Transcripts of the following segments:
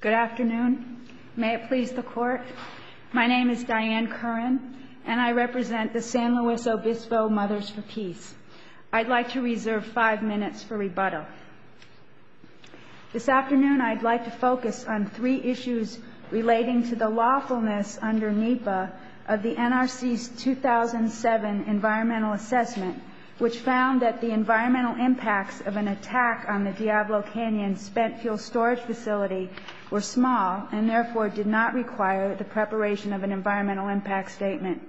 Good afternoon. May it please the Court? My name is Diane Curran, and I represent the San Luis Obispo Mothers for Peace. I'd like to reserve five minutes for rebuttal. This afternoon, I'd like to focus on three issues relating to the lawfulness under NEPA of the NRC's 2007 environmental assessment, which found that the environmental impacts of an attack on the Diablo Canyon spent fuel storage facility were small and therefore did not require the preparation of an environmental impact statement.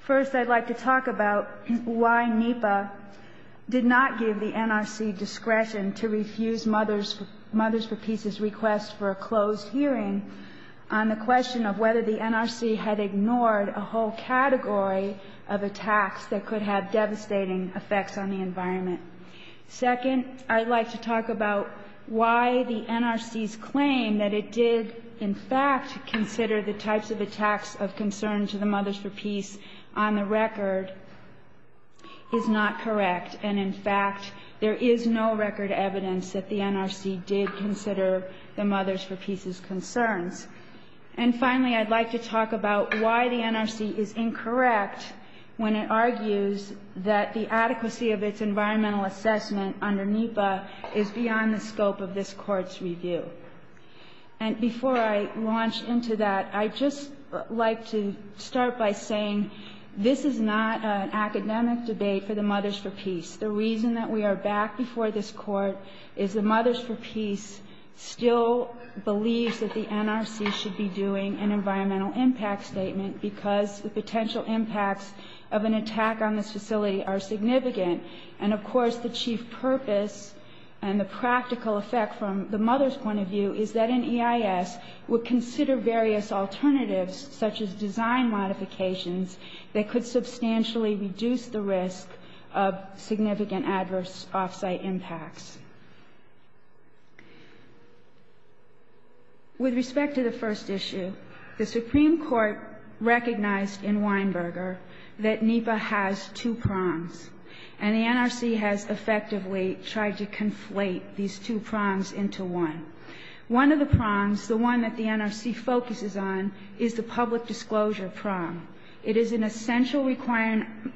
First, I'd like to talk about why NEPA did not give the NRC discretion to refuse Mothers for Peace's request for a closed hearing on the question of whether the NRC had ignored a whole category of attacks that could have devastating effects on the environment. Second, I'd like to talk about why the NRC's claim that it did in fact consider the types of attacks of concern to the Mothers for Peace on the record is not correct, and in fact there is no record evidence that the NRC did consider the Mothers for Peace's concerns. And finally, I'd like to talk about why the NRC is incorrect when it argues that the adequacy of its environmental assessment under NEPA is beyond the scope of this Court's review. And before I launch into that, I'd just like to start by saying this is not an academic debate for the Mothers for Peace. The reason that we are back before this Court is the Mothers for Peace still believes that the NRC should be doing an environmental impact statement because the potential impacts of an attack on this facility are significant, and of course the chief purpose and the practical effect from the Mothers' point of view is that an EIS would consider various alternatives, such as design modifications, that could substantially reduce the risk of significant adverse off-site impacts. With respect to the first issue, the Supreme Court recognized in Weinberger that NEPA has two prongs, and the NRC has effectively tried to conflate these two prongs into one. One of the prongs, the one that the NRC focuses on, is the public disclosure prong. It is an essential requirement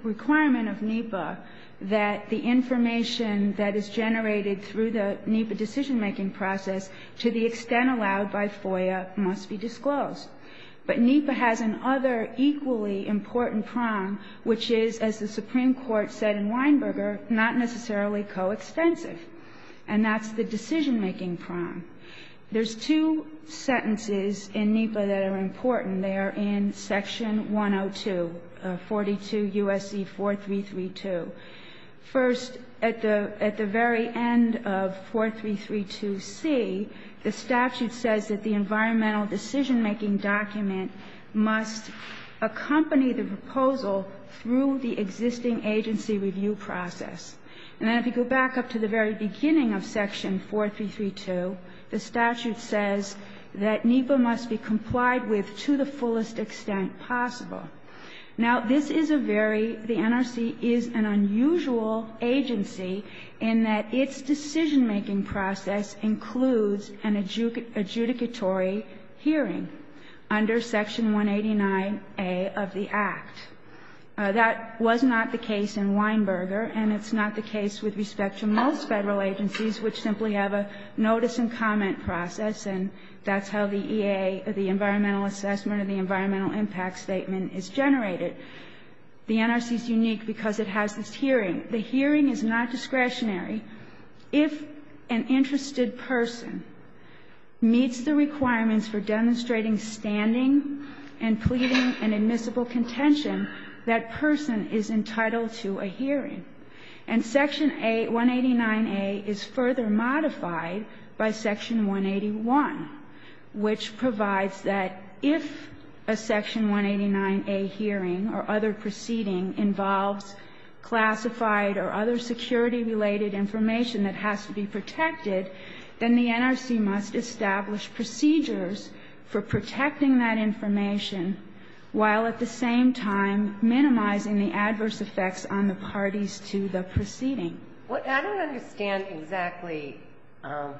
of NEPA that the information that is generated through the NEPA decision-making process to the extent allowed by FOIA must be disclosed. But NEPA has another equally important prong, which is, as the Supreme Court said in Weinberger, not necessarily coextensive, and that's the decision-making prong. There's two sentences in NEPA that are important. They are in section 102, 42 U.S.C. 4332. First, at the very end of 4332C, the statute says that the environmental decision-making document must accompany the proposal through the existing agency review process. And then if you go back up to the very beginning of section 4332, the statute says that NEPA must be complied with to the fullest extent possible. Now, this is a very, the NRC is an unusual agency in that its decision-making process includes an adjudicatory hearing under section 189A of the Act. That was not the case in Weinberger, and it's not the case with respect to most Federal agencies, which simply have a notice and comment process, and that's how the EA, the environmental assessment and the environmental impact statement is generated. The NRC is unique because it has this hearing. The hearing is not discretionary. If an interested person meets the requirements for demonstrating standing and pleading and admissible contention, that person is entitled to a hearing. And section 189A is further modified by section 181, which provides that if a section 189A hearing or other proceeding involves classified or other security-related information that has to be protected, then the NRC must establish procedures for protecting that information while at the same time minimizing the adverse effects on the parties to the proceeding. I don't understand exactly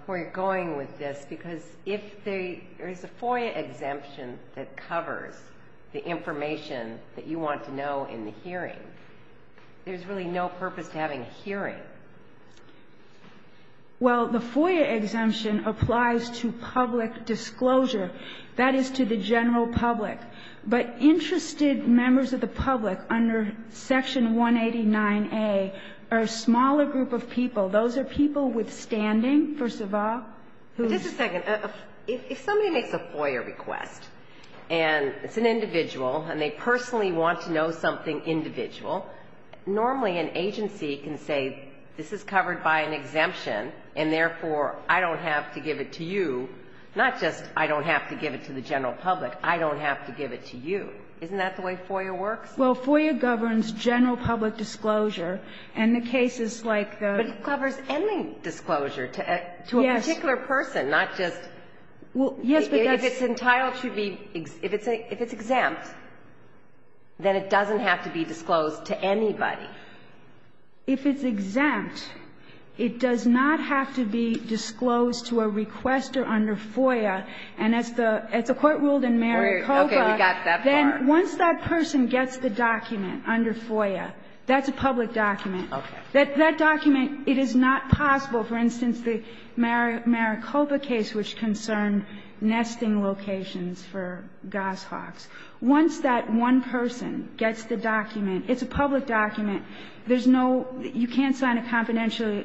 where you're going with this, because if there is a FOIA exemption that covers the information that you want to know in the hearing, there's really no purpose to having a hearing. Well, the FOIA exemption applies to public disclosure. That is to the general public. But interested members of the public under section 189A are a smaller group of people. Those are people with standing, first of all. Just a second. If somebody makes a FOIA request and it's an individual and they personally want to know something individual, normally an agency can say this is covered by an exemption and, therefore, I don't have to give it to you, not just I don't have to give it to the general public. I don't have to give it to you. Isn't that the way FOIA works? Well, FOIA governs general public disclosure. And the cases like the ---- But it covers any disclosure to a particular person, not just ---- Well, yes, but that's ---- If it's entitled to be, if it's exempt, then it doesn't have to be disclosed to anybody. If it's exempt, it does not have to be disclosed to a requester under FOIA. And as the court ruled in Maricopa, then once that person gets the document under FOIA, that's a public document. That document, it is not possible, for instance, the Maricopa case, which concerned nesting locations for goshawks. Once that one person gets the document, it's a public document, there's no ---- you can't sign a confidentiality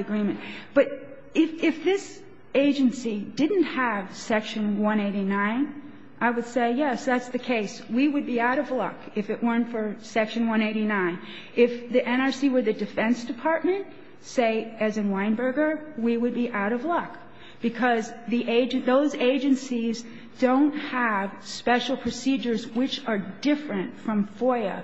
agreement. But if this agency didn't have section 189, I would say, yes, that's the case. We would be out of luck if it weren't for section 189. If the NRC were the Defense Department, say, as in Weinberger, we would be out of luck, because those agencies don't have special procedures which are different from FOIA.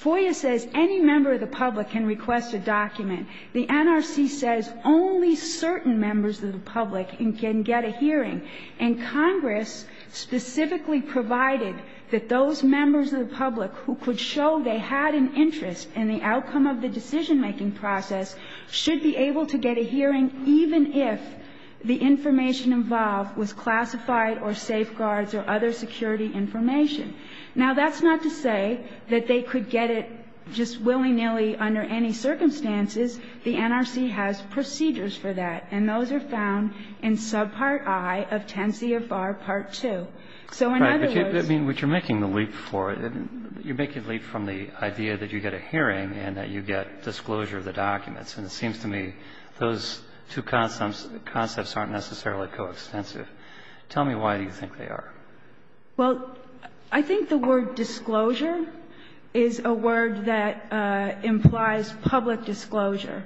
FOIA says any member of the public can request a document. The NRC says only certain members of the public can get a hearing. And Congress specifically provided that those members of the public who could show they had an interest in the outcome of the decision-making process should be able to get a hearing even if the information involved was classified or safeguards or other security information. Now, that's not to say that they could get it just willy-nilly under any circumstances. The NRC has procedures for that, and those are found in subpart I of 10 CFR, part 2. So in other words ---- Roberts, I mean, what you're making the leap for, you're making the leap from the idea that you get a hearing and that you get disclosure of the documents. And it seems to me those two concepts aren't necessarily coextensive. Tell me why you think they are. Well, I think the word disclosure is a word that implies public disclosure.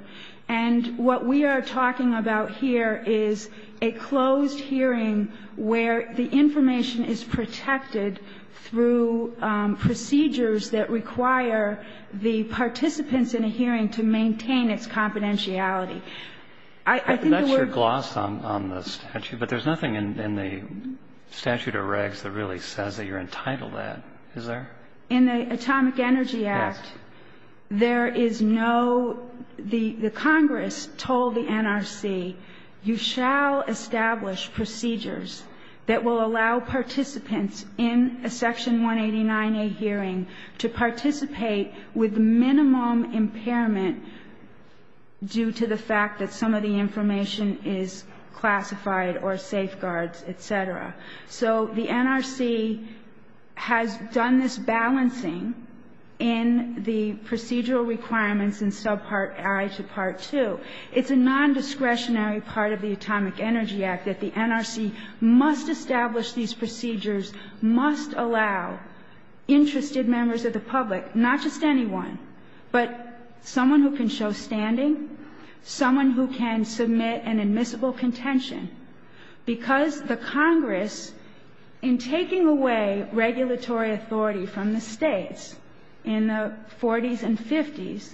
And what we are talking about here is a closed hearing where the information is protected through procedures that require the participants in a hearing to maintain its confidentiality. I think the word ---- But there's nothing in the statute of regs that really says that you're entitled to that, is there? In the Atomic Energy Act, there is no ---- the Congress told the NRC, you shall establish procedures that will allow participants in a section 189A hearing to participate with minimum impairment due to the fact that some of the information is classified or safeguards, et cetera. So the NRC has done this balancing in the procedural requirements in subpart I to part 2. It's a nondiscretionary part of the Atomic Energy Act that the NRC must establish must allow interested members of the public, not just anyone, but someone who can show standing, someone who can submit an admissible contention. Because the Congress, in taking away regulatory authority from the states in the 40s and 50s,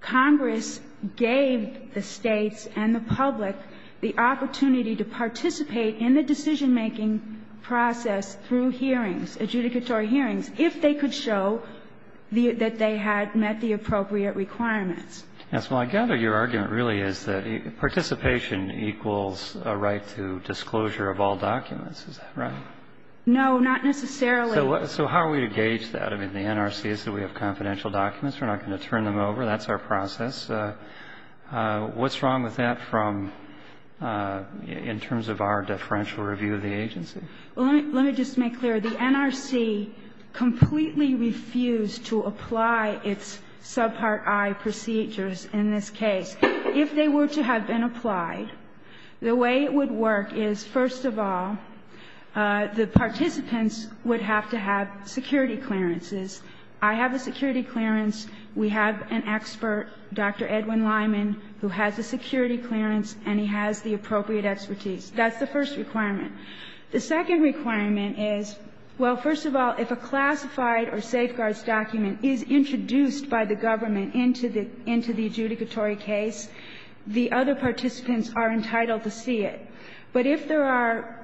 Congress gave the states and the public the opportunity to participate in the decision-making process through hearings, adjudicatory hearings, if they could show that they had met the appropriate requirements. Yes. Well, I gather your argument really is that participation equals a right to disclosure of all documents. Is that right? No, not necessarily. So how are we to gauge that? I mean, the NRC has said we have confidential documents. We're not going to turn them over. That's our process. What's wrong with that from, in terms of our deferential review of the agency? Well, let me just make clear. The NRC completely refused to apply its subpart I procedures in this case. If they were to have been applied, the way it would work is, first of all, the participants would have to have security clearances. I have a security clearance. We have an expert, Dr. Edwin Lyman, who has a security clearance, and he has the appropriate expertise. That's the first requirement. The second requirement is, well, first of all, if a classified or safeguards document is introduced by the government into the adjudicatory case, the other participants are entitled to see it. But if there are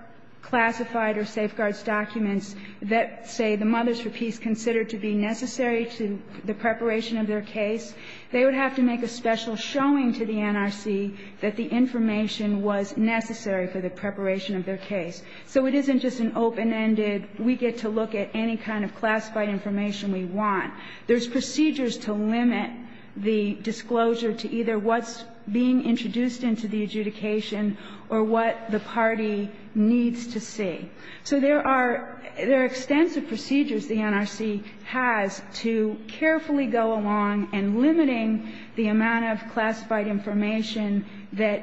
classified or safeguards documents that, say, the Mothers for Peace considered to be necessary to the preparation of their case, they would have to make a special showing to the NRC that the information was necessary for the preparation of their case. So it isn't just an open-ended, we get to look at any kind of classified information we want. There's procedures to limit the disclosure to either what's being introduced into the adjudication or what the party needs to see. So there are extensive procedures the NRC has to carefully go along and limiting the amount of classified information that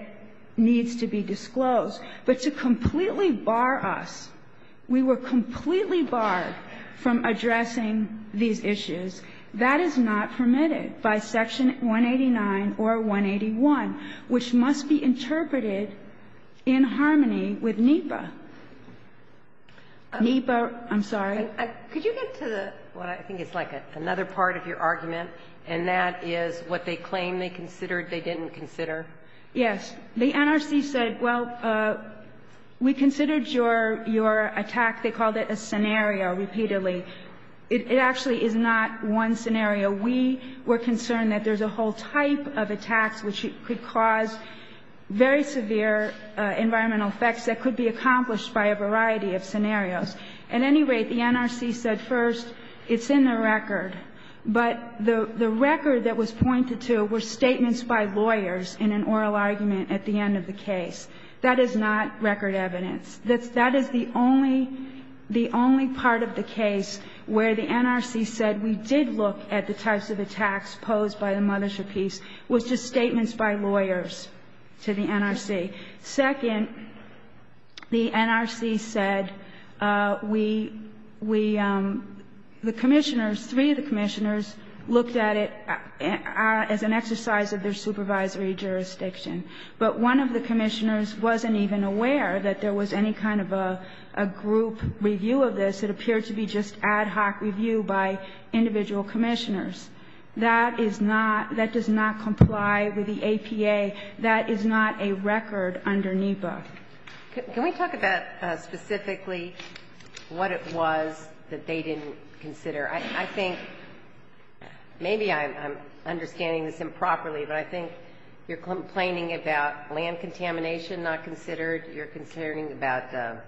needs to be disclosed. But to completely bar us, we were completely barred from addressing these issues, that is not permitted by Section 189 or 181, which must be interpreted in harmony with NEPA. NEPA, I'm sorry. Could you get to the, what I think is like another part of your argument, and that is what they claim they considered they didn't consider? Yes. The NRC said, well, we considered your attack, they called it a scenario, repeatedly. It actually is not one scenario. We were concerned that there's a whole type of attacks which could cause very severe environmental effects that could be accomplished by a variety of scenarios. At any rate, the NRC said, first, it's in the record. But the record that was pointed to were statements by lawyers in an oral argument at the end of the case. That is not record evidence. That is the only part of the case where the NRC said we did look at the types of attacks posed by the militia piece, which is statements by lawyers to the NRC. Second, the NRC said we, we, the Commissioners, three of the Commissioners looked at it as an exercise of their supervisory jurisdiction. But one of the Commissioners wasn't even aware that there was any kind of a group review of this. It appeared to be just ad hoc review by individual Commissioners. That is not, that does not comply with the APA. That is not a record under NEPA. Can we talk about specifically what it was that they didn't consider? I think, maybe I'm understanding this improperly, but I think you're complaining about land contamination not considered. You're considering about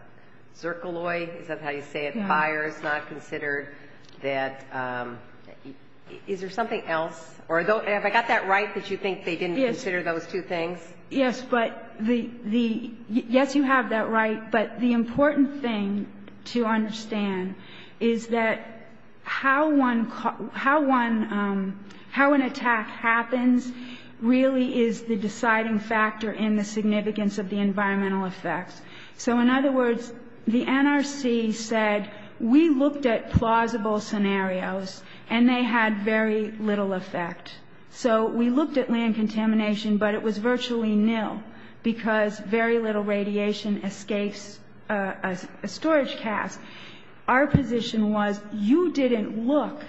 Zircaloy. Is that how you say it? Fire is not considered. That, is there something else? Or have I got that right that you think they didn't consider those two things? Yes, but the, yes, you have that right. But the important thing to understand is that how one, how one, how an attack happens really is the deciding factor in the significance of the environmental effects. So, in other words, the NRC said we looked at plausible scenarios and they had very little effect. So, we looked at land contamination, but it was virtually nil because very little radiation escapes a storage cast. Our position was you didn't look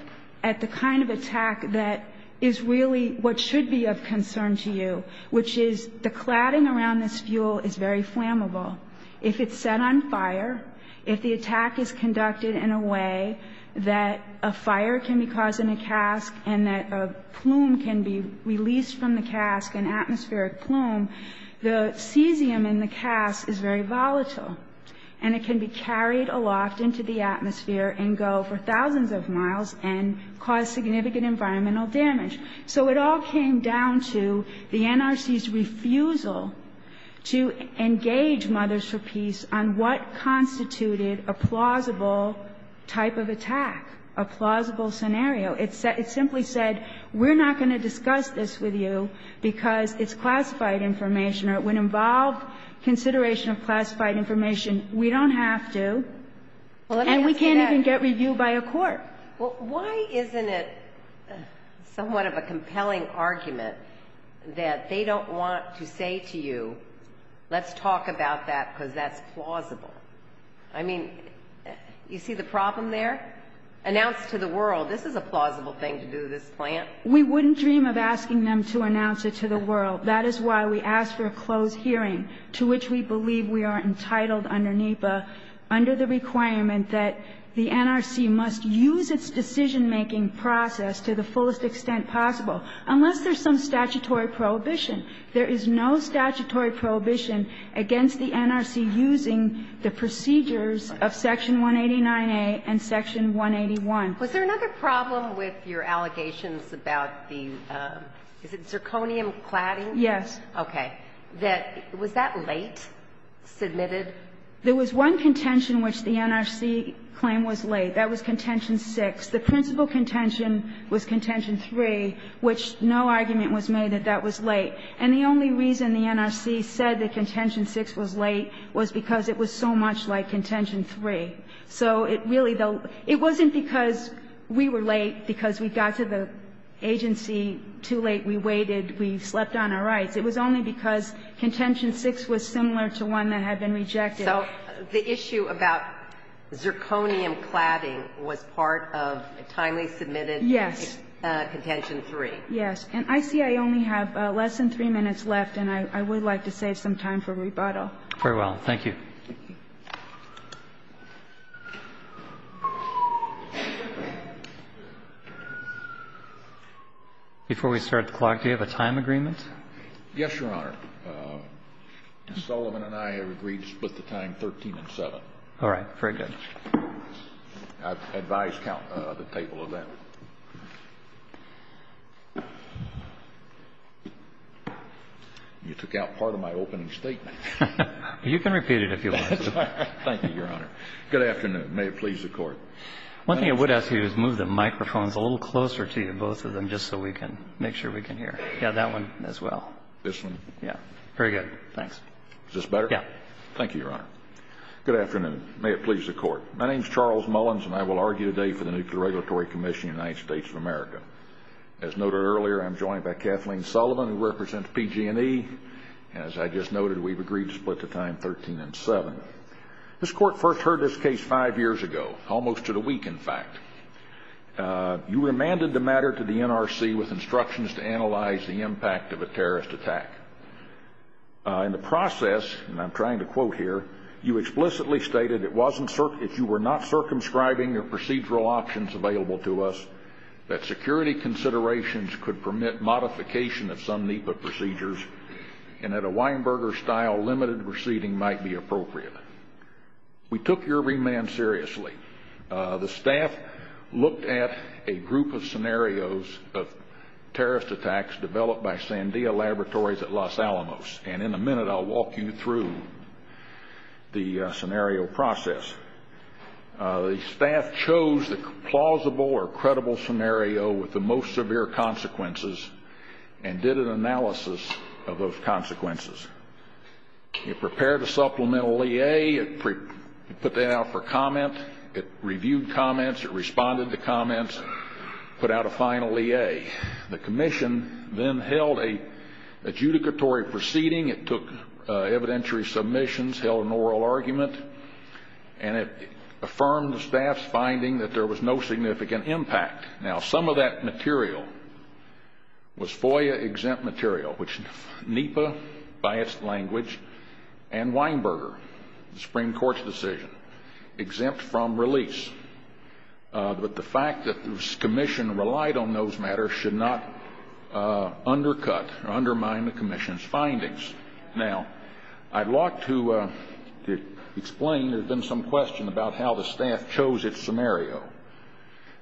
at the kind of attack that is really what should be of concern to you, which is the cladding around this fuel is very flammable. If it's set on fire, if the attack is conducted in a way that a fire can be caused in a cask and that a plume can be released from the cask, an atmospheric plume, the cesium in the cask is very volatile. And it can be carried aloft into the atmosphere and go for thousands of miles and cause significant environmental damage. So it all came down to the NRC's refusal to engage Mothers for Peace on what constituted a plausible type of attack, a plausible scenario. It simply said we're not going to discuss this with you because it's classified information or it would involve consideration of classified information. We don't have to. And we can't even get review by a court. Well, why isn't it somewhat of a compelling argument that they don't want to say to you let's talk about that because that's plausible? I mean, you see the problem there? Announce to the world this is a plausible thing to do to this plant. We wouldn't dream of asking them to announce it to the world. That is why we asked for a closed hearing to which we believe we are entitled under NEPA under the requirement that the NRC must use its decision-making process to the fullest extent possible, unless there's some statutory prohibition. There is no statutory prohibition against the NRC using the procedures of Section 189a and Section 181. Was there another problem with your allegations about the zirconium cladding? Yes. Was that late, submitted? There was one contention which the NRC claimed was late. That was Contention 6. The principal contention was Contention 3, which no argument was made that that was late. And the only reason the NRC said that Contention 6 was late was because it was so much like Contention 3. So it really, it wasn't because we were late, because we got to the agency too late, we waited, we slept on our rights. It was only because Contention 6 was similar to one that had been rejected. So the issue about zirconium cladding was part of a timely submitted Contention 3. Yes. And I see I only have less than three minutes left, and I would like to save some time for rebuttal. Very well. Thank you. Before we start the clock, do you have a time agreement? Yes, Your Honor. Solomon and I have agreed to split the time 13 and 7. All right. Very good. I advise count the table of that. You took out part of my opening statement. You can repeat it if you want. Thank you, Your Honor. Good afternoon. May it please the Court. One thing I would ask you is move the microphones a little closer to you, both of them, just so we can make sure we can hear. Yeah, that one as well. This one? Yeah. Very good. Thanks. Is this better? Yeah. Thank you, Your Honor. Good afternoon. May it please the Court. My name is Charles Mullins, and I will argue today for the Nuclear Regulatory Commission of the United States of America. As noted earlier, I'm joined by Kathleen Sullivan, who represents PG&E. As I just noted, we've agreed to split the time 13 and 7. This Court first heard this case five years ago, almost to the week, in fact. You remanded the matter to the NRC with instructions to analyze the impact of a terrorist attack. In the process, and I'm trying to quote here, you explicitly stated, if you were not circumscribing the procedural options available to us, that security considerations could permit modification of some NEPA procedures and that a Weinberger-style limited proceeding might be appropriate. We took your remand seriously. The staff looked at a group of scenarios of terrorist attacks developed by Sandia Laboratories at Los Alamos, and in a minute I'll walk you through the scenario process. The staff chose the plausible or credible scenario with the most severe consequences and did an analysis of those consequences. It prepared a supplemental liais, it put that out for comment, it reviewed comments, it responded to comments, put out a final liais. The commission then held an adjudicatory proceeding. It took evidentiary submissions, held an oral argument, and it affirmed the staff's finding that there was no significant impact. Now, some of that material was FOIA-exempt material, which NEPA, by its language, and Weinberger, the Supreme Court's decision, exempt from release. But the fact that the commission relied on those matters should not undercut or undermine the commission's findings. Now, I'd like to explain there's been some question about how the staff chose its scenario,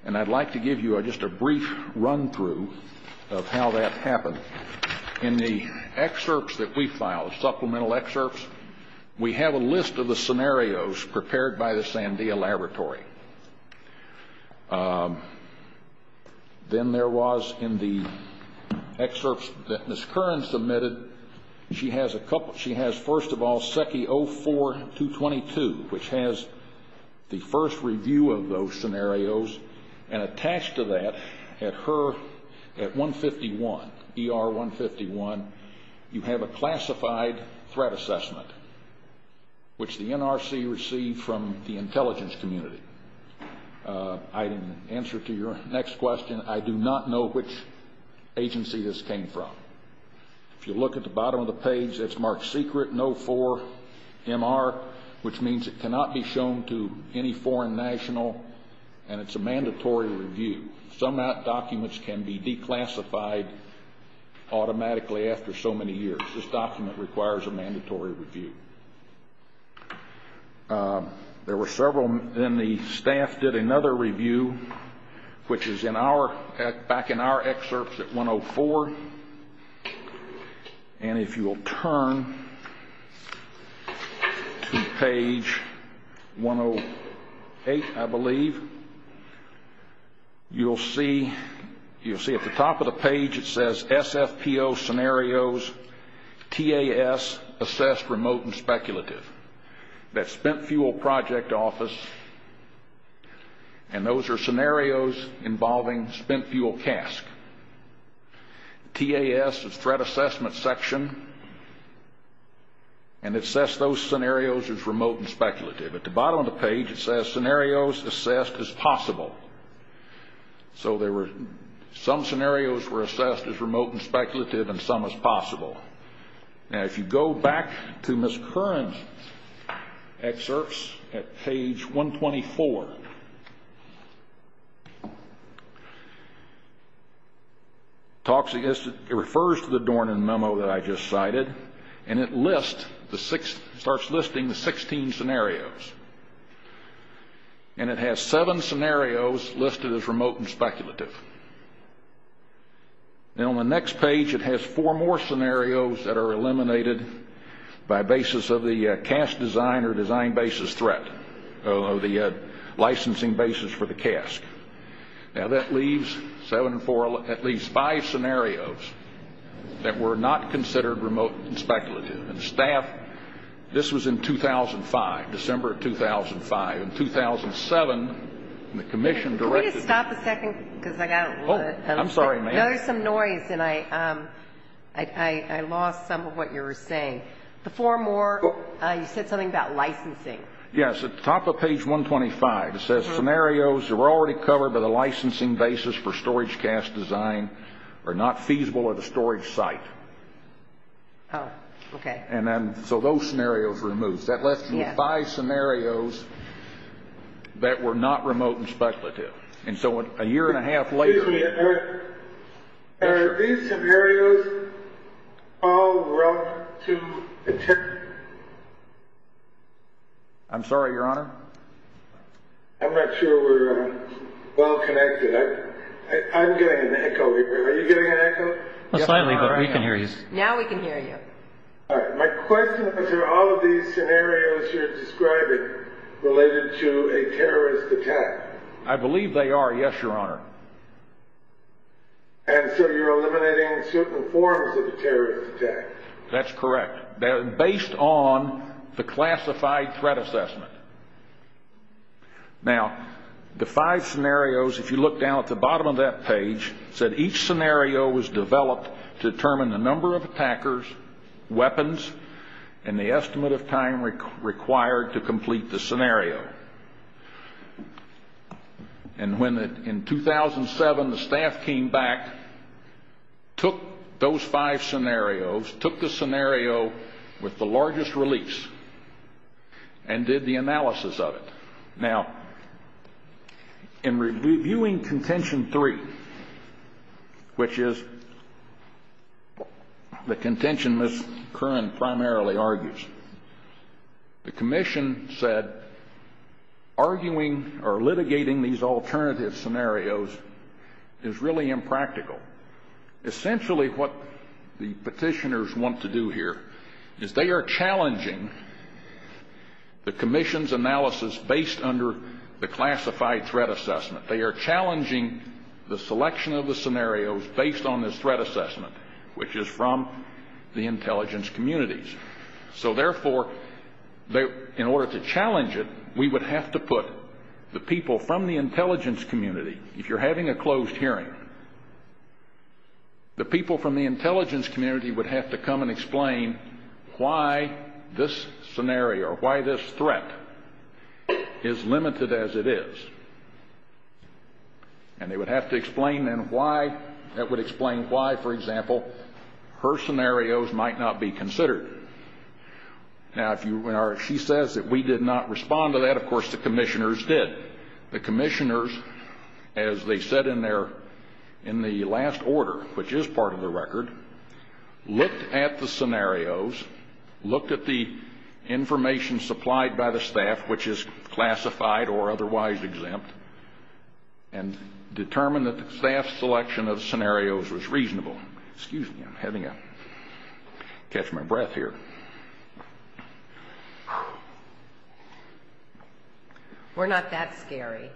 and I'd like to give you just a brief run-through of how that happened. In the excerpts that we filed, supplemental excerpts, we have a list of the scenarios prepared by the Sandia Laboratory. Then there was in the excerpts that Ms. Curran submitted, she has a couple. which has the first review of those scenarios, and attached to that at 151, ER 151, you have a classified threat assessment, which the NRC received from the intelligence community. In answer to your next question, I do not know which agency this came from. If you look at the bottom of the page, it's marked secret, no for MR, which means it cannot be shown to any foreign national, and it's a mandatory review. Some documents can be declassified automatically after so many years. This document requires a mandatory review. There were several, and the staff did another review, which is back in our excerpts at 104. And if you will turn to page 108, I believe, you'll see at the top of the page it says, SFPO Scenarios TAS Assessed Remote and Speculative. That's Spent Fuel Project Office, and those are scenarios involving spent fuel casks. TAS is Threat Assessment Section, and it says those scenarios are remote and speculative. At the bottom of the page, it says Scenarios Assessed as Possible. So some scenarios were assessed as remote and speculative and some as possible. Now, if you go back to Ms. Curran's excerpts at page 124, it refers to the Dornan memo that I just cited, and it starts listing the 16 scenarios. And it has seven scenarios listed as remote and speculative. And on the next page, it has four more scenarios that are eliminated by basis of the cask design or design basis threat, or the licensing basis for the cask. Now, that leaves at least five scenarios that were not considered remote and speculative. And staff, this was in 2005, December of 2005. In 2007, the commission directed Can we just stop a second because I got a little Oh, I'm sorry, ma'am. No, there's some noise, and I lost some of what you were saying. The four more, you said something about licensing. Yes, at the top of page 125, it says Scenarios that were already covered by the licensing basis for storage cask design are not feasible at a storage site. Oh, okay. So those scenarios were removed. That left you with five scenarios that were not remote and speculative. And so a year and a half later Excuse me, are these scenarios all wrong to attend? I'm sorry, Your Honor. I'm not sure we're well connected. I'm getting an echo. Are you getting an echo? Slightly, but we can hear you. Now we can hear you. All right. My question is, are all of these scenarios you're describing related to a terrorist attack? I believe they are, yes, Your Honor. And so you're eliminating certain forms of a terrorist attack. That's correct, based on the classified threat assessment. Now, the five scenarios, if you look down at the bottom of that page, it said each scenario was developed to determine the number of attackers, weapons, and the estimate of time required to complete the scenario. And when, in 2007, the staff came back, took those five scenarios, took the scenario with the largest release, and did the analysis of it. Now, in reviewing contention three, which is the contention Ms. Curran primarily argues, the commission said arguing or litigating these alternative scenarios is really impractical. Essentially what the petitioners want to do here is they are challenging the commission's analysis based under the classified threat assessment. They are challenging the selection of the scenarios based on this threat assessment, which is from the intelligence communities. So therefore, in order to challenge it, we would have to put the people from the intelligence community, if you're having a closed hearing, the people from the intelligence community would have to come and explain why this scenario or why this threat is limited as it is. And they would have to explain then why, that would explain why, for example, her scenarios might not be considered. Now, if she says that we did not respond to that, of course the commissioners did. The commissioners, as they said in the last order, which is part of the record, looked at the scenarios, looked at the information supplied by the staff, which is classified or otherwise exempt, and determined that the staff selection of scenarios was reasonable. Excuse me. I'm having a catch my breath here. We're not that scary.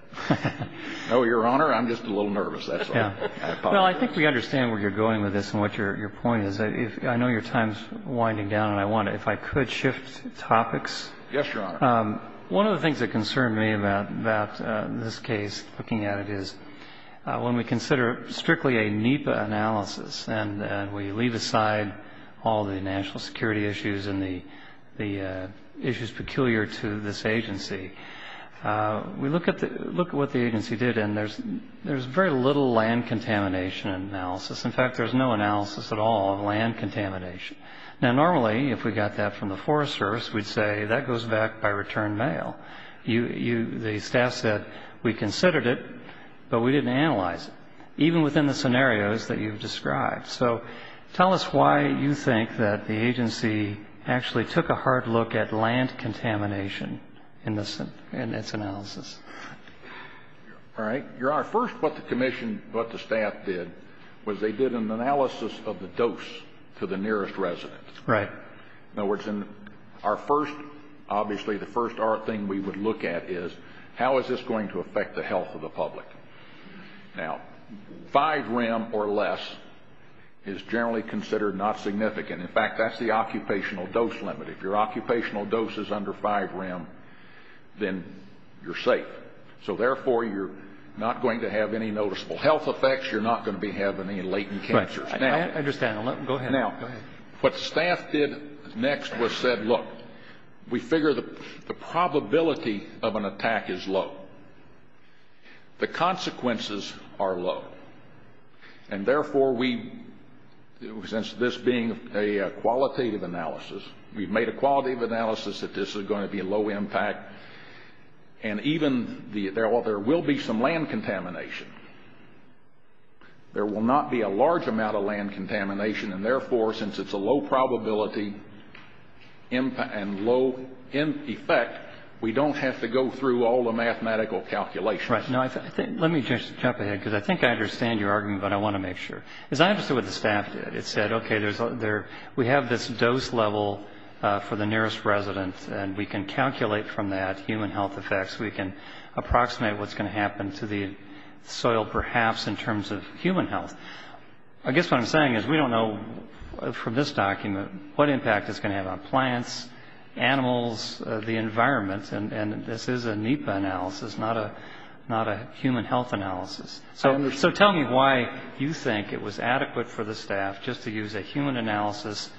No, Your Honor. I'm just a little nervous. That's all. Well, I think we understand where you're going with this and what your point is. I know your time is winding down and I wonder if I could shift topics. Yes, Your Honor. One of the things that concerned me about this case, looking at it, is when we consider strictly a NEPA analysis and we leave aside all the national security issues and the issues peculiar to this agency, we look at what the agency did and there's very little land contamination analysis. In fact, there's no analysis at all of land contamination. Now, normally, if we got that from the Forest Service, we'd say that goes back by return mail. The staff said we considered it, but we didn't analyze it, even within the scenarios that you've described. So tell us why you think that the agency actually took a hard look at land contamination in its analysis. All right. Your Honor, first, what the commission, what the staff did, was they did an analysis of the dose to the nearest resident. Right. In other words, our first, obviously the first thing we would look at is, how is this going to affect the health of the public? Now, five rem or less is generally considered not significant. In fact, that's the occupational dose limit. If your occupational dose is under five rem, then you're safe. So, therefore, you're not going to have any noticeable health effects. You're not going to have any latent cancers. Right. I understand. Go ahead. Now, what staff did next was said, look, we figure the probability of an attack is low. The consequences are low. And, therefore, we, since this being a qualitative analysis, we've made a qualitative analysis that this is going to be a low impact, and even there will be some land contamination. There will not be a large amount of land contamination, and, therefore, since it's a low probability and low effect, we don't have to go through all the mathematical calculations. Right. Now, let me just jump ahead because I think I understand your argument, but I want to make sure. As I understood what the staff did, it said, okay, we have this dose level for the nearest resident, and we can calculate from that human health effects. We can approximate what's going to happen to the soil, perhaps, in terms of human health. I guess what I'm saying is we don't know from this document what impact it's going to have on plants, animals, the environment. And this is a NEPA analysis, not a human health analysis. So tell me why you think it was adequate for the staff just to use a human analysis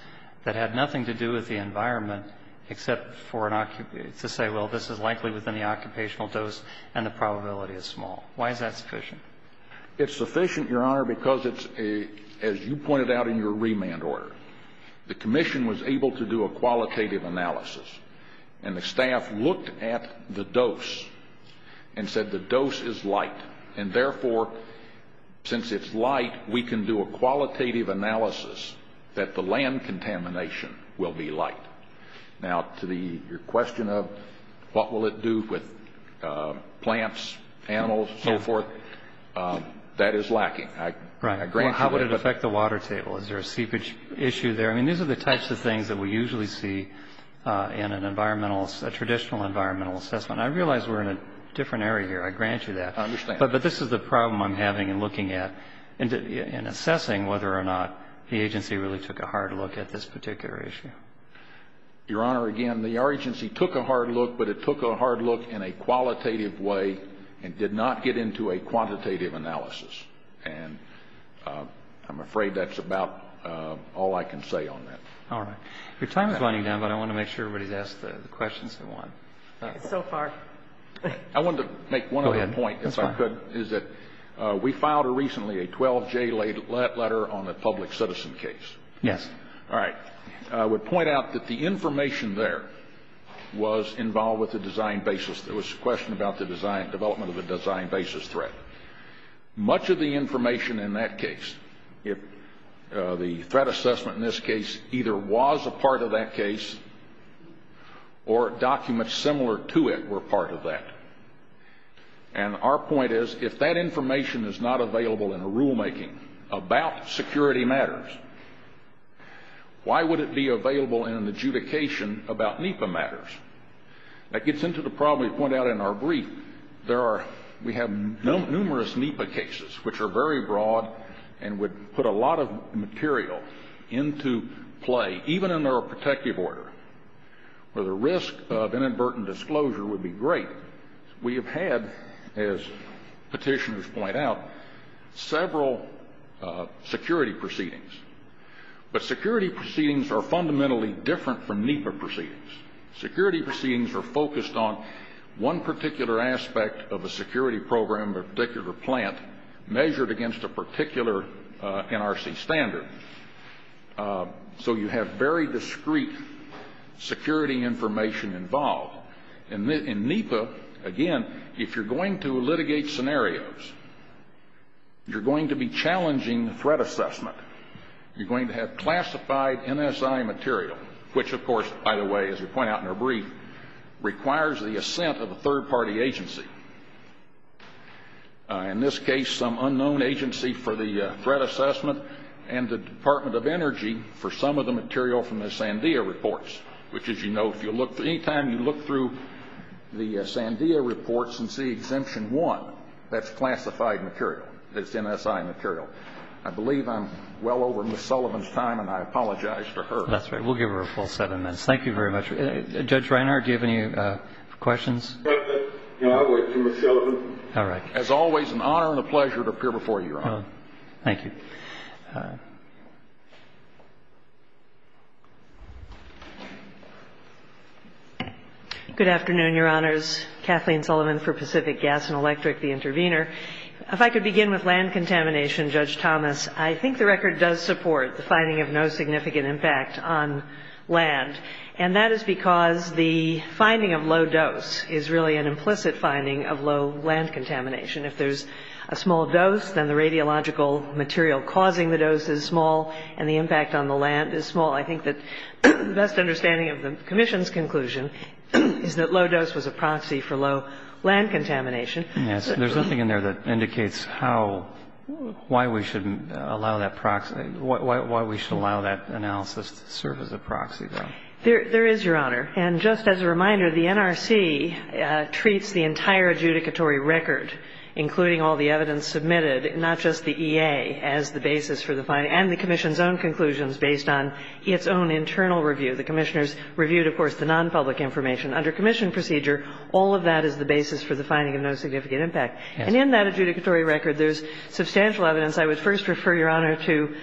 that had nothing to do with the environment except to say, well, this is likely within the occupational dose and the probability is small. Why is that sufficient? It's sufficient, Your Honor, because it's, as you pointed out in your remand order, the commission was able to do a qualitative analysis, and the staff looked at the dose and said the dose is light. And, therefore, since it's light, we can do a qualitative analysis that the land contamination will be light. Now, to your question of what will it do with plants, animals, and so forth, that is lacking. How would it affect the water table? Is there a seepage issue there? I mean, these are the types of things that we usually see in a traditional environmental assessment. I realize we're in a different area here. I grant you that. I understand. But this is the problem I'm having in assessing whether or not the agency really took a hard look at this particular issue. Your Honor, again, our agency took a hard look, but it took a hard look in a qualitative way and did not get into a quantitative analysis. And I'm afraid that's about all I can say on that. All right. Your time is running down, but I want to make sure everybody's asked the questions they want. So far. I wanted to make one other point, if I could, is that we filed recently a 12J letter on a public citizen case. Yes. All right. I would point out that the information there was involved with the design basis. There was a question about the development of a design basis threat. Much of the information in that case, the threat assessment in this case, either was a part of that case or documents similar to it were part of that. And our point is, if that information is not available in a rulemaking about security matters, why would it be available in an adjudication about NEPA matters? That gets into the problem we point out in our brief. We have numerous NEPA cases which are very broad and would put a lot of material into play, even under a protective order, where the risk of inadvertent disclosure would be great. We have had, as petitioners point out, several security proceedings. But security proceedings are fundamentally different from NEPA proceedings. Security proceedings are focused on one particular aspect of a security program or particular plant measured against a particular NRC standard. So you have very discrete security information involved. In NEPA, again, if you're going to litigate scenarios, you're going to be challenging threat assessment. You're going to have classified NSI material, which, of course, by the way, as we point out in our brief, requires the assent of a third-party agency. In this case, some unknown agency for the threat assessment and the Department of Energy for some of the material from the Sandia reports, which, as you know, any time you look through the Sandia reports and see Exemption 1, that's classified material. That's NSI material. I believe I'm well over Ms. Sullivan's time, and I apologize to her. That's all right. We'll give her a full seven minutes. Thank you very much. Judge Reiner, do you have any questions? No, I'll wait for Ms. Sullivan. All right. As always, an honor and a pleasure to appear before you, Your Honor. Thank you. Good afternoon, Your Honors. Kathleen Sullivan for Pacific Gas and Electric, The Intervener. If I could begin with land contamination, Judge Thomas. I think the record does support the finding of no significant impact on land, and that is because the finding of low dose is really an implicit finding of low land contamination. If there's a small dose, then the radiological material causing the dose is small and the impact on the land is small. I think that the best understanding of the commission's conclusion is that low dose was a proxy for low land contamination. Yes. There's nothing in there that indicates how, why we should allow that proxy, why we should allow that analysis to serve as a proxy, though. There is, Your Honor. And just as a reminder, the NRC treats the entire adjudicatory record, including all the evidence submitted, not just the EA as the basis for the finding, and the commission's own conclusions based on its own internal review. The commissioners reviewed, of course, the nonpublic information. Under commission procedure, all of that is the basis for the finding of no significant impact. And in that adjudicatory record, there's substantial evidence. I would first refer, Your Honor, to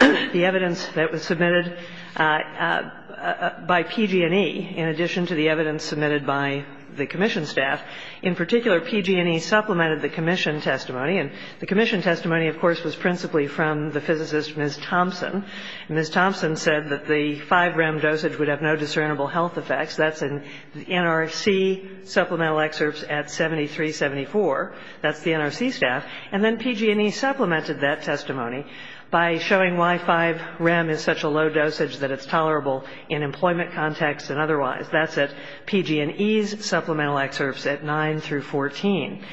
the evidence that was submitted by PG&E, in addition to the evidence submitted by the commission staff. In particular, PG&E supplemented the commission testimony, and the commission testimony, of course, was principally from the physicist Ms. Thompson. Ms. Thompson said that the 5-rem dosage would have no discernible health effects. That's in the NRC supplemental excerpts at 73, 74. That's the NRC staff. And then PG&E supplemented that testimony by showing why 5-rem is such a low dosage that it's tolerable in employment contexts and otherwise. That's at PG&E's supplemental excerpts at 9 through 14.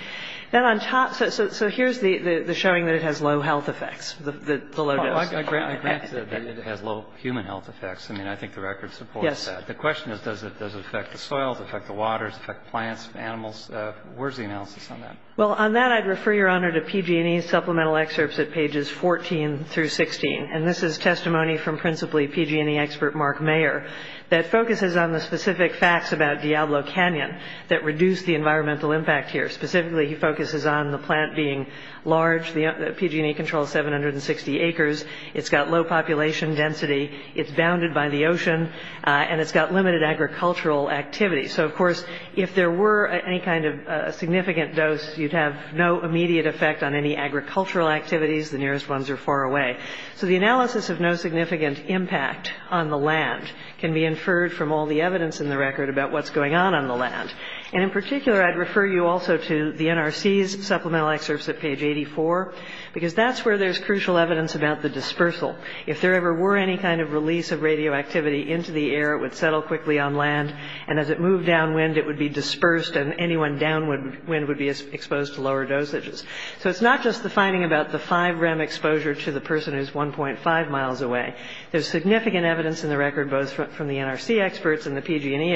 Then on top so here's the showing that it has low health effects, the low dose. I grant that it has low human health effects. I mean, I think the record supports that. The question is, does it affect the soils, affect the waters, affect plants, animals? Where's the analysis on that? Well, on that, I'd refer, Your Honor, to PG&E's supplemental excerpts at pages 14 through 16. And this is testimony from principally PG&E expert Mark Mayer that focuses on the specific facts about Diablo Canyon that reduce the environmental impact here. Specifically, he focuses on the plant being large. PG&E controls 760 acres. It's got low population density. It's bounded by the ocean. And it's got limited agricultural activity. So, of course, if there were any kind of significant dose, you'd have no immediate effect on any agricultural activities. The nearest ones are far away. So the analysis of no significant impact on the land can be inferred from all the evidence in the record about what's going on on the land. And in particular, I'd refer you also to the NRC's supplemental excerpts at page 84, because that's where there's crucial evidence about the dispersal. If there ever were any kind of release of radioactivity into the air, it would settle quickly on land. And as it moved downwind, it would be dispersed. And anyone downwind would be exposed to lower dosages. So it's not just the finding about the 5 rem exposure to the person who's 1.5 miles away. There's significant evidence in the record, both from the NRC experts and the PG&E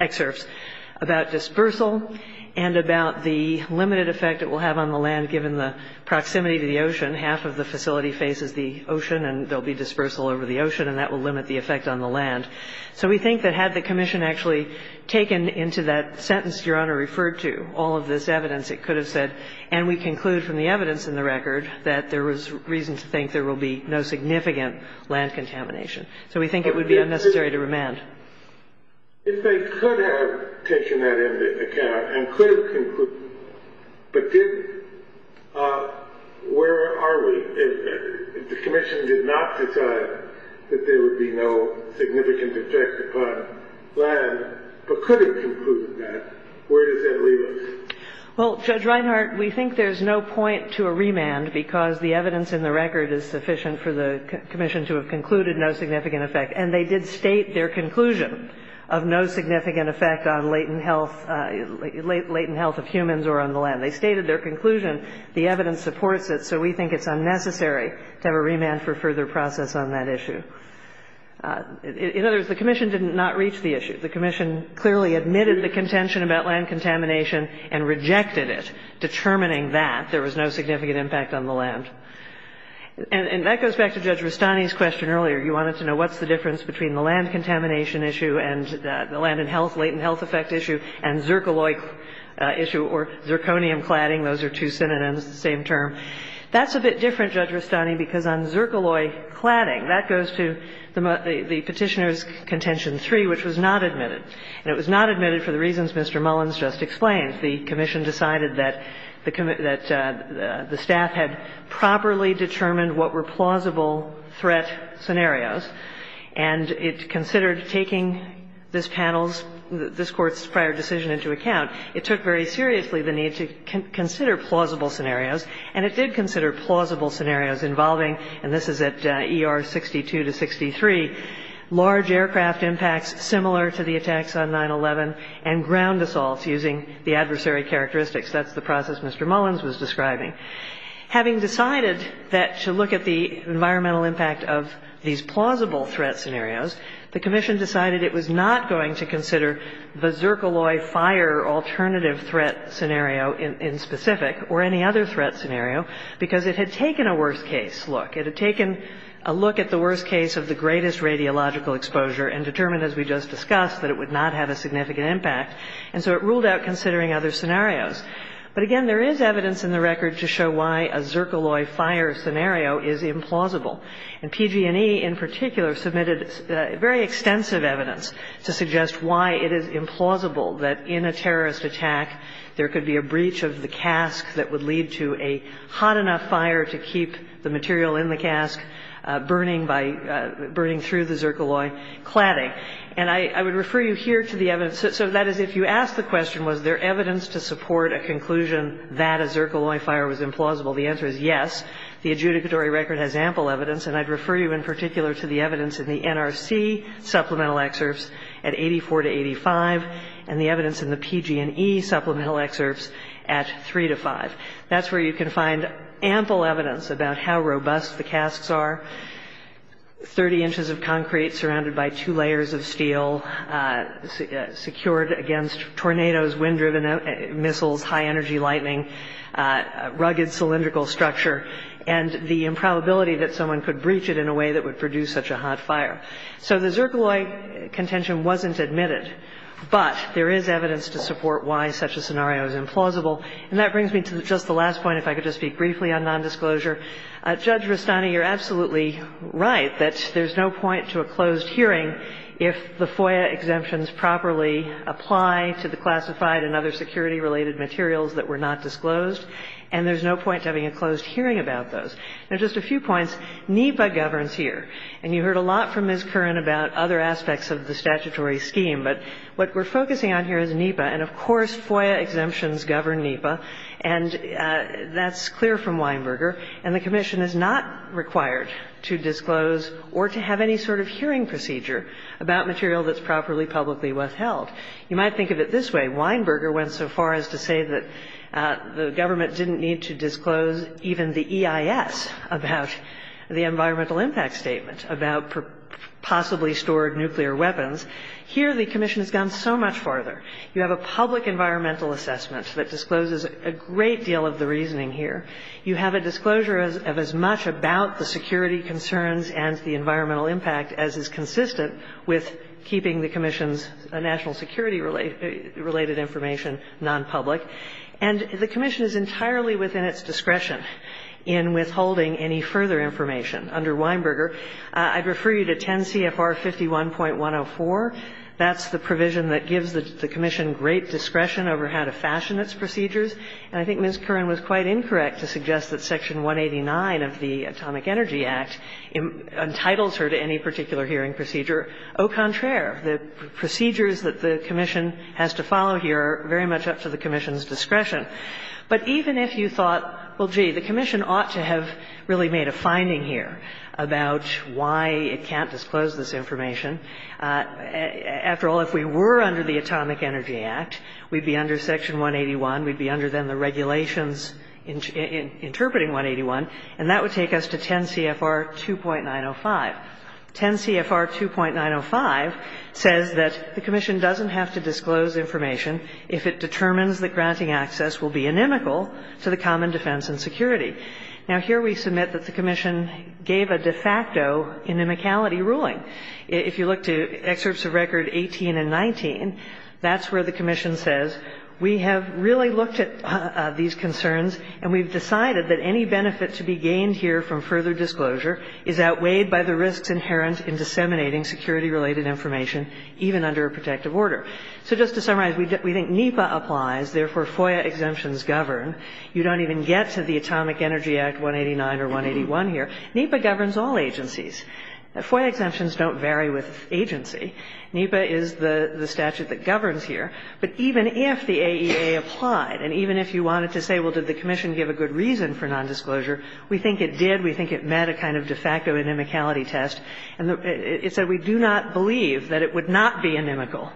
excerpts, about dispersal and about the limited effect it will have on the land given the proximity to the ocean. Half of the facility faces the ocean, and there will be dispersal over the ocean, and that will limit the effect on the land. So we think that had the commission actually taken into that sentence Your Honor referred to, all of this evidence, it could have said, and we conclude from the evidence in the record that there was reason to think there will be no significant land contamination. So we think it would be unnecessary to remand. If they could have taken that into account and could have concluded, but didn't, where are we? If the commission did not decide that there would be no significant effect upon land, but could have concluded that, where does that leave us? Well, Judge Reinhart, we think there's no point to a remand because the evidence in the record is sufficient for the commission to have concluded no significant effect. And they did state their conclusion of no significant effect on latent health of humans or on the land. They stated their conclusion. The evidence supports it. So we think it's unnecessary to have a remand for further process on that issue. In other words, the commission did not reach the issue. The commission clearly admitted the contention about land contamination and rejected it determining that there was no significant impact on the land. And that goes back to Judge Rustani's question earlier. You wanted to know what's the difference between the land contamination issue and the land and health, latent health effect issue, and zircaloy issue or zirconium cladding. Those are two synonyms, the same term. That's a bit different, Judge Rustani, because on zircaloy cladding, that goes to the Petitioner's Contention 3, which was not admitted. And it was not admitted for the reasons Mr. Mullins just explained. The commission decided that the staff had properly determined what were plausible threat scenarios, and it considered taking this panel's, this Court's prior decision into account. It took very seriously the need to consider plausible scenarios, and it did consider plausible scenarios involving, and this is at ER 62 to 63, large aircraft impacts similar to the attacks on 9-11 and ground assaults using the adversary characteristics. That's the process Mr. Mullins was describing. Having decided that to look at the environmental impact of these plausible threat scenarios, the commission decided it was not going to consider the zircaloy fire alternative threat scenario in specific or any other threat scenario because it had taken a worst-case look. It had taken a look at the worst case of the greatest radiological exposure and determined, as we just discussed, that it would not have a significant impact. And so it ruled out considering other scenarios. But, again, there is evidence in the record to show why a zircaloy fire scenario is implausible. And PG&E in particular submitted very extensive evidence to suggest why it is implausible that in a terrorist attack there could be a breach of the cask that would lead to a hot enough fire to keep the material in the cask burning by burning through the zircaloy cladding. And I would refer you here to the evidence. So that is, if you ask the question, was there evidence to support a conclusion that a zircaloy fire was implausible, the answer is yes. The adjudicatory record has ample evidence, and I'd refer you in particular to the evidence in the NRC supplemental excerpts at 84 to 85 and the evidence in the PG&E supplemental excerpts at 3 to 5. That's where you can find ample evidence about how robust the casks are, 30 inches of concrete surrounded by two layers of steel secured against tornadoes, wind-driven missiles, high-energy lightning, rugged cylindrical structure, and the improbability that someone could breach it in a way that would produce such a hot fire. So the zircaloy contention wasn't admitted, but there is evidence to support why such a scenario is implausible. And that brings me to just the last point, if I could just speak briefly on nondisclosure. Judge Rustani, you're absolutely right that there's no point to a closed hearing if the FOIA exemptions properly apply to the classified and other security-related materials that were not disclosed, and there's no point to having a closed hearing about those. Now, just a few points. NEPA governs here. And you heard a lot from Ms. Curran about other aspects of the statutory scheme. But what we're focusing on here is NEPA. And, of course, FOIA exemptions govern NEPA. And that's clear from Weinberger. And the commission is not required to disclose or to have any sort of hearing procedure about material that's properly publicly withheld. You might think of it this way. Weinberger went so far as to say that the government didn't need to disclose even the EIS about the environmental impact statement about possibly stored nuclear weapons. Here the commission has gone so much farther. You have a public environmental assessment that discloses a great deal of the reasoning here. You have a disclosure of as much about the security concerns and the environmental impact as is consistent with keeping the commission's national security-related information nonpublic. And the commission is entirely within its discretion in withholding any further information. Under Weinberger, I'd refer you to 10 CFR 51.104. That's the provision that gives the commission great discretion over how to fashion its procedures. And I think Ms. Curran was quite incorrect to suggest that Section 189 of the Atomic Energy Act entitles her to any particular hearing procedure. Au contraire. The procedures that the commission has to follow here are very much up to the commission's discretion. But even if you thought, well, gee, the commission ought to have really made a finding here about why it can't disclose this information. After all, if we were under the Atomic Energy Act, we'd be under Section 181. We'd be under then the regulations interpreting 181. And that would take us to 10 CFR 2.905. 10 CFR 2.905 says that the commission doesn't have to disclose information if it determines that granting access will be inimical to the common defense and security. Now, here we submit that the commission gave a de facto inimicality ruling. If you look to excerpts of record 18 and 19, that's where the commission says, we have really looked at these concerns and we've decided that any benefit to be gained here from further disclosure is outweighed by the risks inherent in disseminating security-related information, even under a protective order. So just to summarize, we think NEPA applies, therefore FOIA exemptions govern. You don't even get to the Atomic Energy Act 189 or 181 here. NEPA governs all agencies. FOIA exemptions don't vary with agency. NEPA is the statute that governs here. But even if the AEA applied and even if you wanted to say, well, did the commission give a good reason for nondisclosure, we think it did. We think it met a kind of de facto inimicality test. And it said we do not believe that it would not be inimical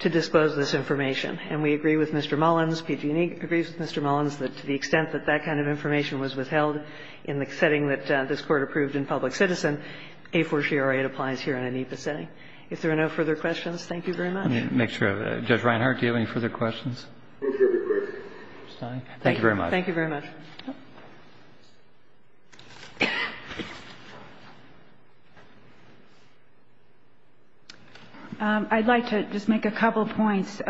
to disclose this information. And we agree with Mr. Mullins. PG&E agrees with Mr. Mullins that to the extent that that kind of information was withheld in the setting that this Court approved in Public Citizen, A4308 applies here in a NEPA setting. If there are no further questions, thank you very much. Roberts. Let me make sure. Judge Reinhart, do you have any further questions? Thank you very much. Thank you very much. I'd like to just make a couple of points.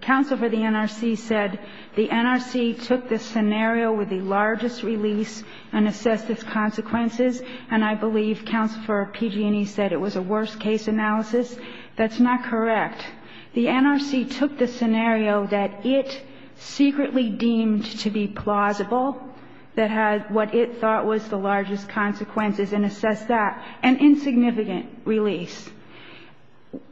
Counsel for the NRC said the NRC took this scenario with the largest release and assessed its consequences. And I believe Counsel for PG&E said it was a worst-case analysis. That's not correct. The NRC took the scenario that it secretly deemed to be plausible that had what it thought was the largest consequences and assessed that, an insignificant release.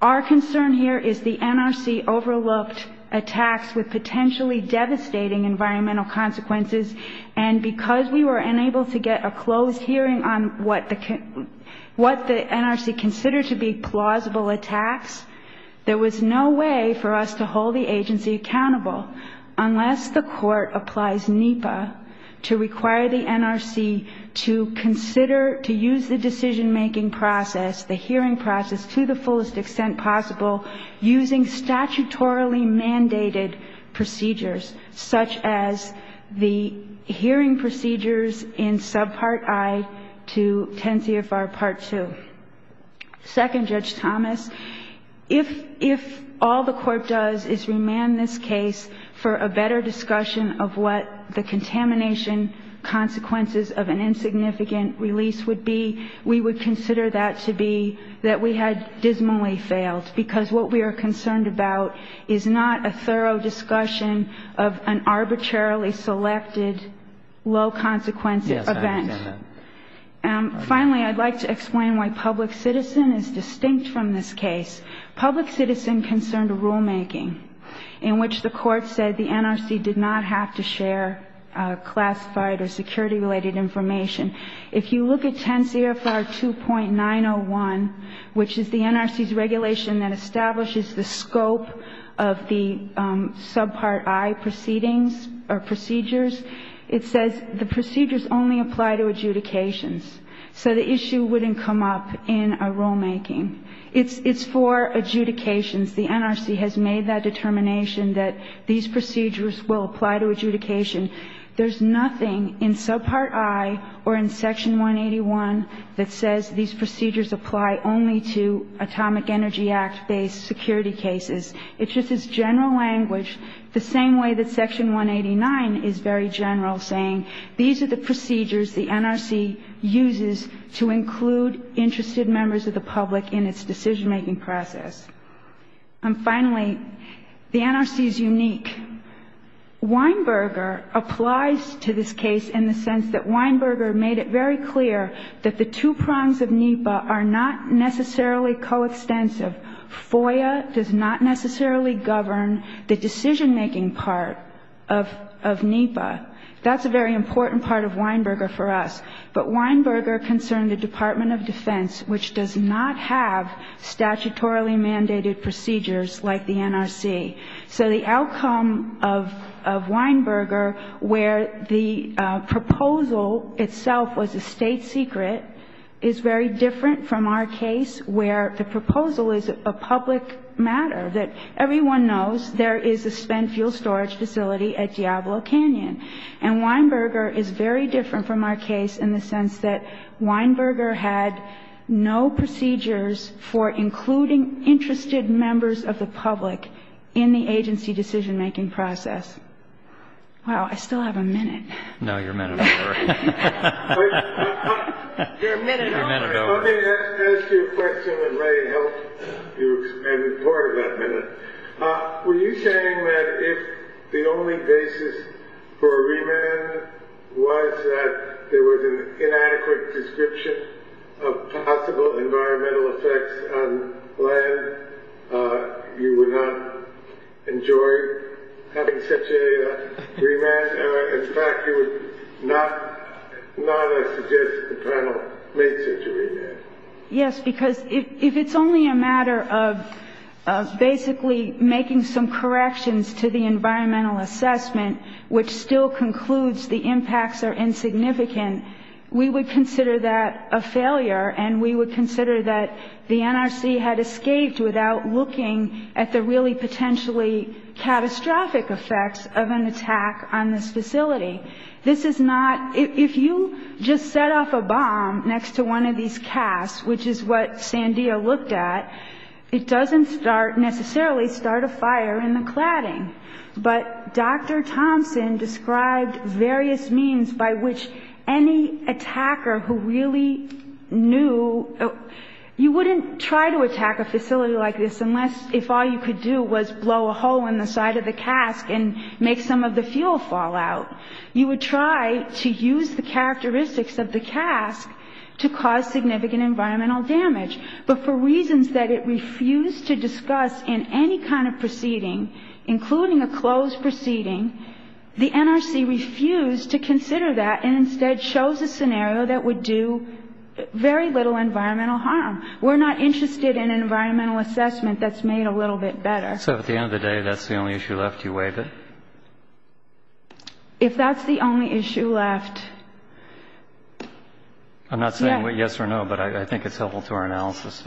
Our concern here is the NRC overlooked attacks with potentially devastating environmental consequences. And because we were unable to get a closed hearing on what the NRC considered to be plausible attacks, there was no way for us to hold the agency accountable unless the Court applies NEPA to require the NRC to consider, to use the decision-making process, the hearing process to the fullest extent possible, using statutorily mandated procedures, such as the hearing procedures in subpart I to 10 CFR Part 2. Second, Judge Thomas, if all the Court does is remand this case for a better discussion of what the contamination consequences of an insignificant release would be, we would consider that to be that we had dismally failed, because what we are concerned about is not a thorough discussion of an arbitrarily selected, low-consequence event. Yes, I understand that. Finally, I'd like to explain why public citizen is distinct from this case. Public citizen concerned rulemaking, in which the Court said the NRC did not have to share classified or security-related information. If you look at 10 CFR 2.901, which is the NRC's regulation that establishes the scope of the subpart I proceedings or procedures, it says the procedures only apply to adjudications. So the issue wouldn't come up in a rulemaking. It's for adjudications. The NRC has made that determination that these procedures will apply to adjudication. There's nothing in subpart I or in Section 181 that says these procedures apply only to Atomic Energy Act-based security cases. It's just this general language, the same way that Section 189 is very general, saying these are the procedures the NRC uses to include interested members of the public in its decision-making process. And finally, the NRC is unique. Weinberger applies to this case in the sense that Weinberger made it very clear that the two prongs of NEPA are not necessarily coextensive. FOIA does not necessarily govern the decision-making part of NEPA. That's a very important part of Weinberger for us. But Weinberger concerned the Department of Defense, which does not have statutorily mandated procedures like the NRC. So the outcome of Weinberger, where the proposal itself was a state secret, is very different from our case where the proposal is a public matter, that everyone knows there is a spent fuel storage facility at Diablo Canyon. And Weinberger is very different from our case in the sense that Weinberger had no in the agency decision-making process. Wow, I still have a minute. No, you're a minute over. You're a minute over. Let me ask you a question that may help you and be part of that minute. Were you saying that if the only basis for a remand was that there was an inadequate description of possible environmental effects on land, you would not enjoy having such a remand? Or, in fact, you would not suggest the panel make such a remand? Yes, because if it's only a matter of basically making some corrections to the environmental assessment, which still concludes the impacts are insignificant, we would consider that a failure, and we would consider that the NRC had escaped without looking at the really potentially catastrophic effects of an attack on this facility. This is not – if you just set off a bomb next to one of these casts, which is what Sandia looked at, it doesn't necessarily start a fire in the cladding. But Dr. Thompson described various means by which any attacker who really knew – you wouldn't try to attack a facility like this unless – if all you could do was blow a hole in the side of the cask and make some of the fuel fall out. You would try to use the characteristics of the cask to cause significant environmental damage. But for reasons that it refused to discuss in any kind of proceeding, including a closed proceeding, the NRC refused to consider that and instead chose a scenario that would do very little environmental harm. We're not interested in an environmental assessment that's made a little bit better. So at the end of the day, if that's the only issue left, you waive it? If that's the only issue left, yes. I'm not saying yes or no, but I think it's helpful to our analysis.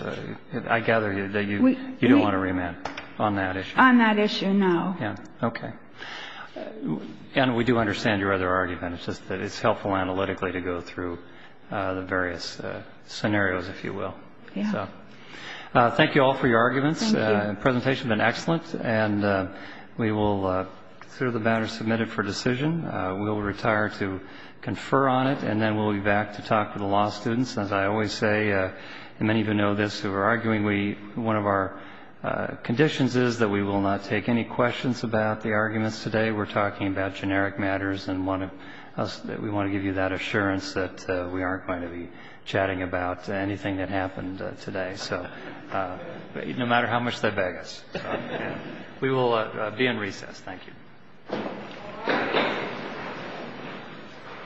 I gather that you don't want to remand on that issue. On that issue, no. Okay. And we do understand your other argument. It's just that it's helpful analytically to go through the various scenarios, if you will. Yeah. Thank you all for your arguments. Thank you. The presentation's been excellent, and we will consider the matter submitted for decision. We will retire to confer on it, and then we'll be back to talk to the law students. As I always say, and many of you know this who are arguing, one of our conditions is that we will not take any questions about the arguments today. We're talking about generic matters, and we want to give you that assurance that we aren't going to be chatting about anything that happened today, no matter how much they beg us. We will be in recess. Thank you. Thank you.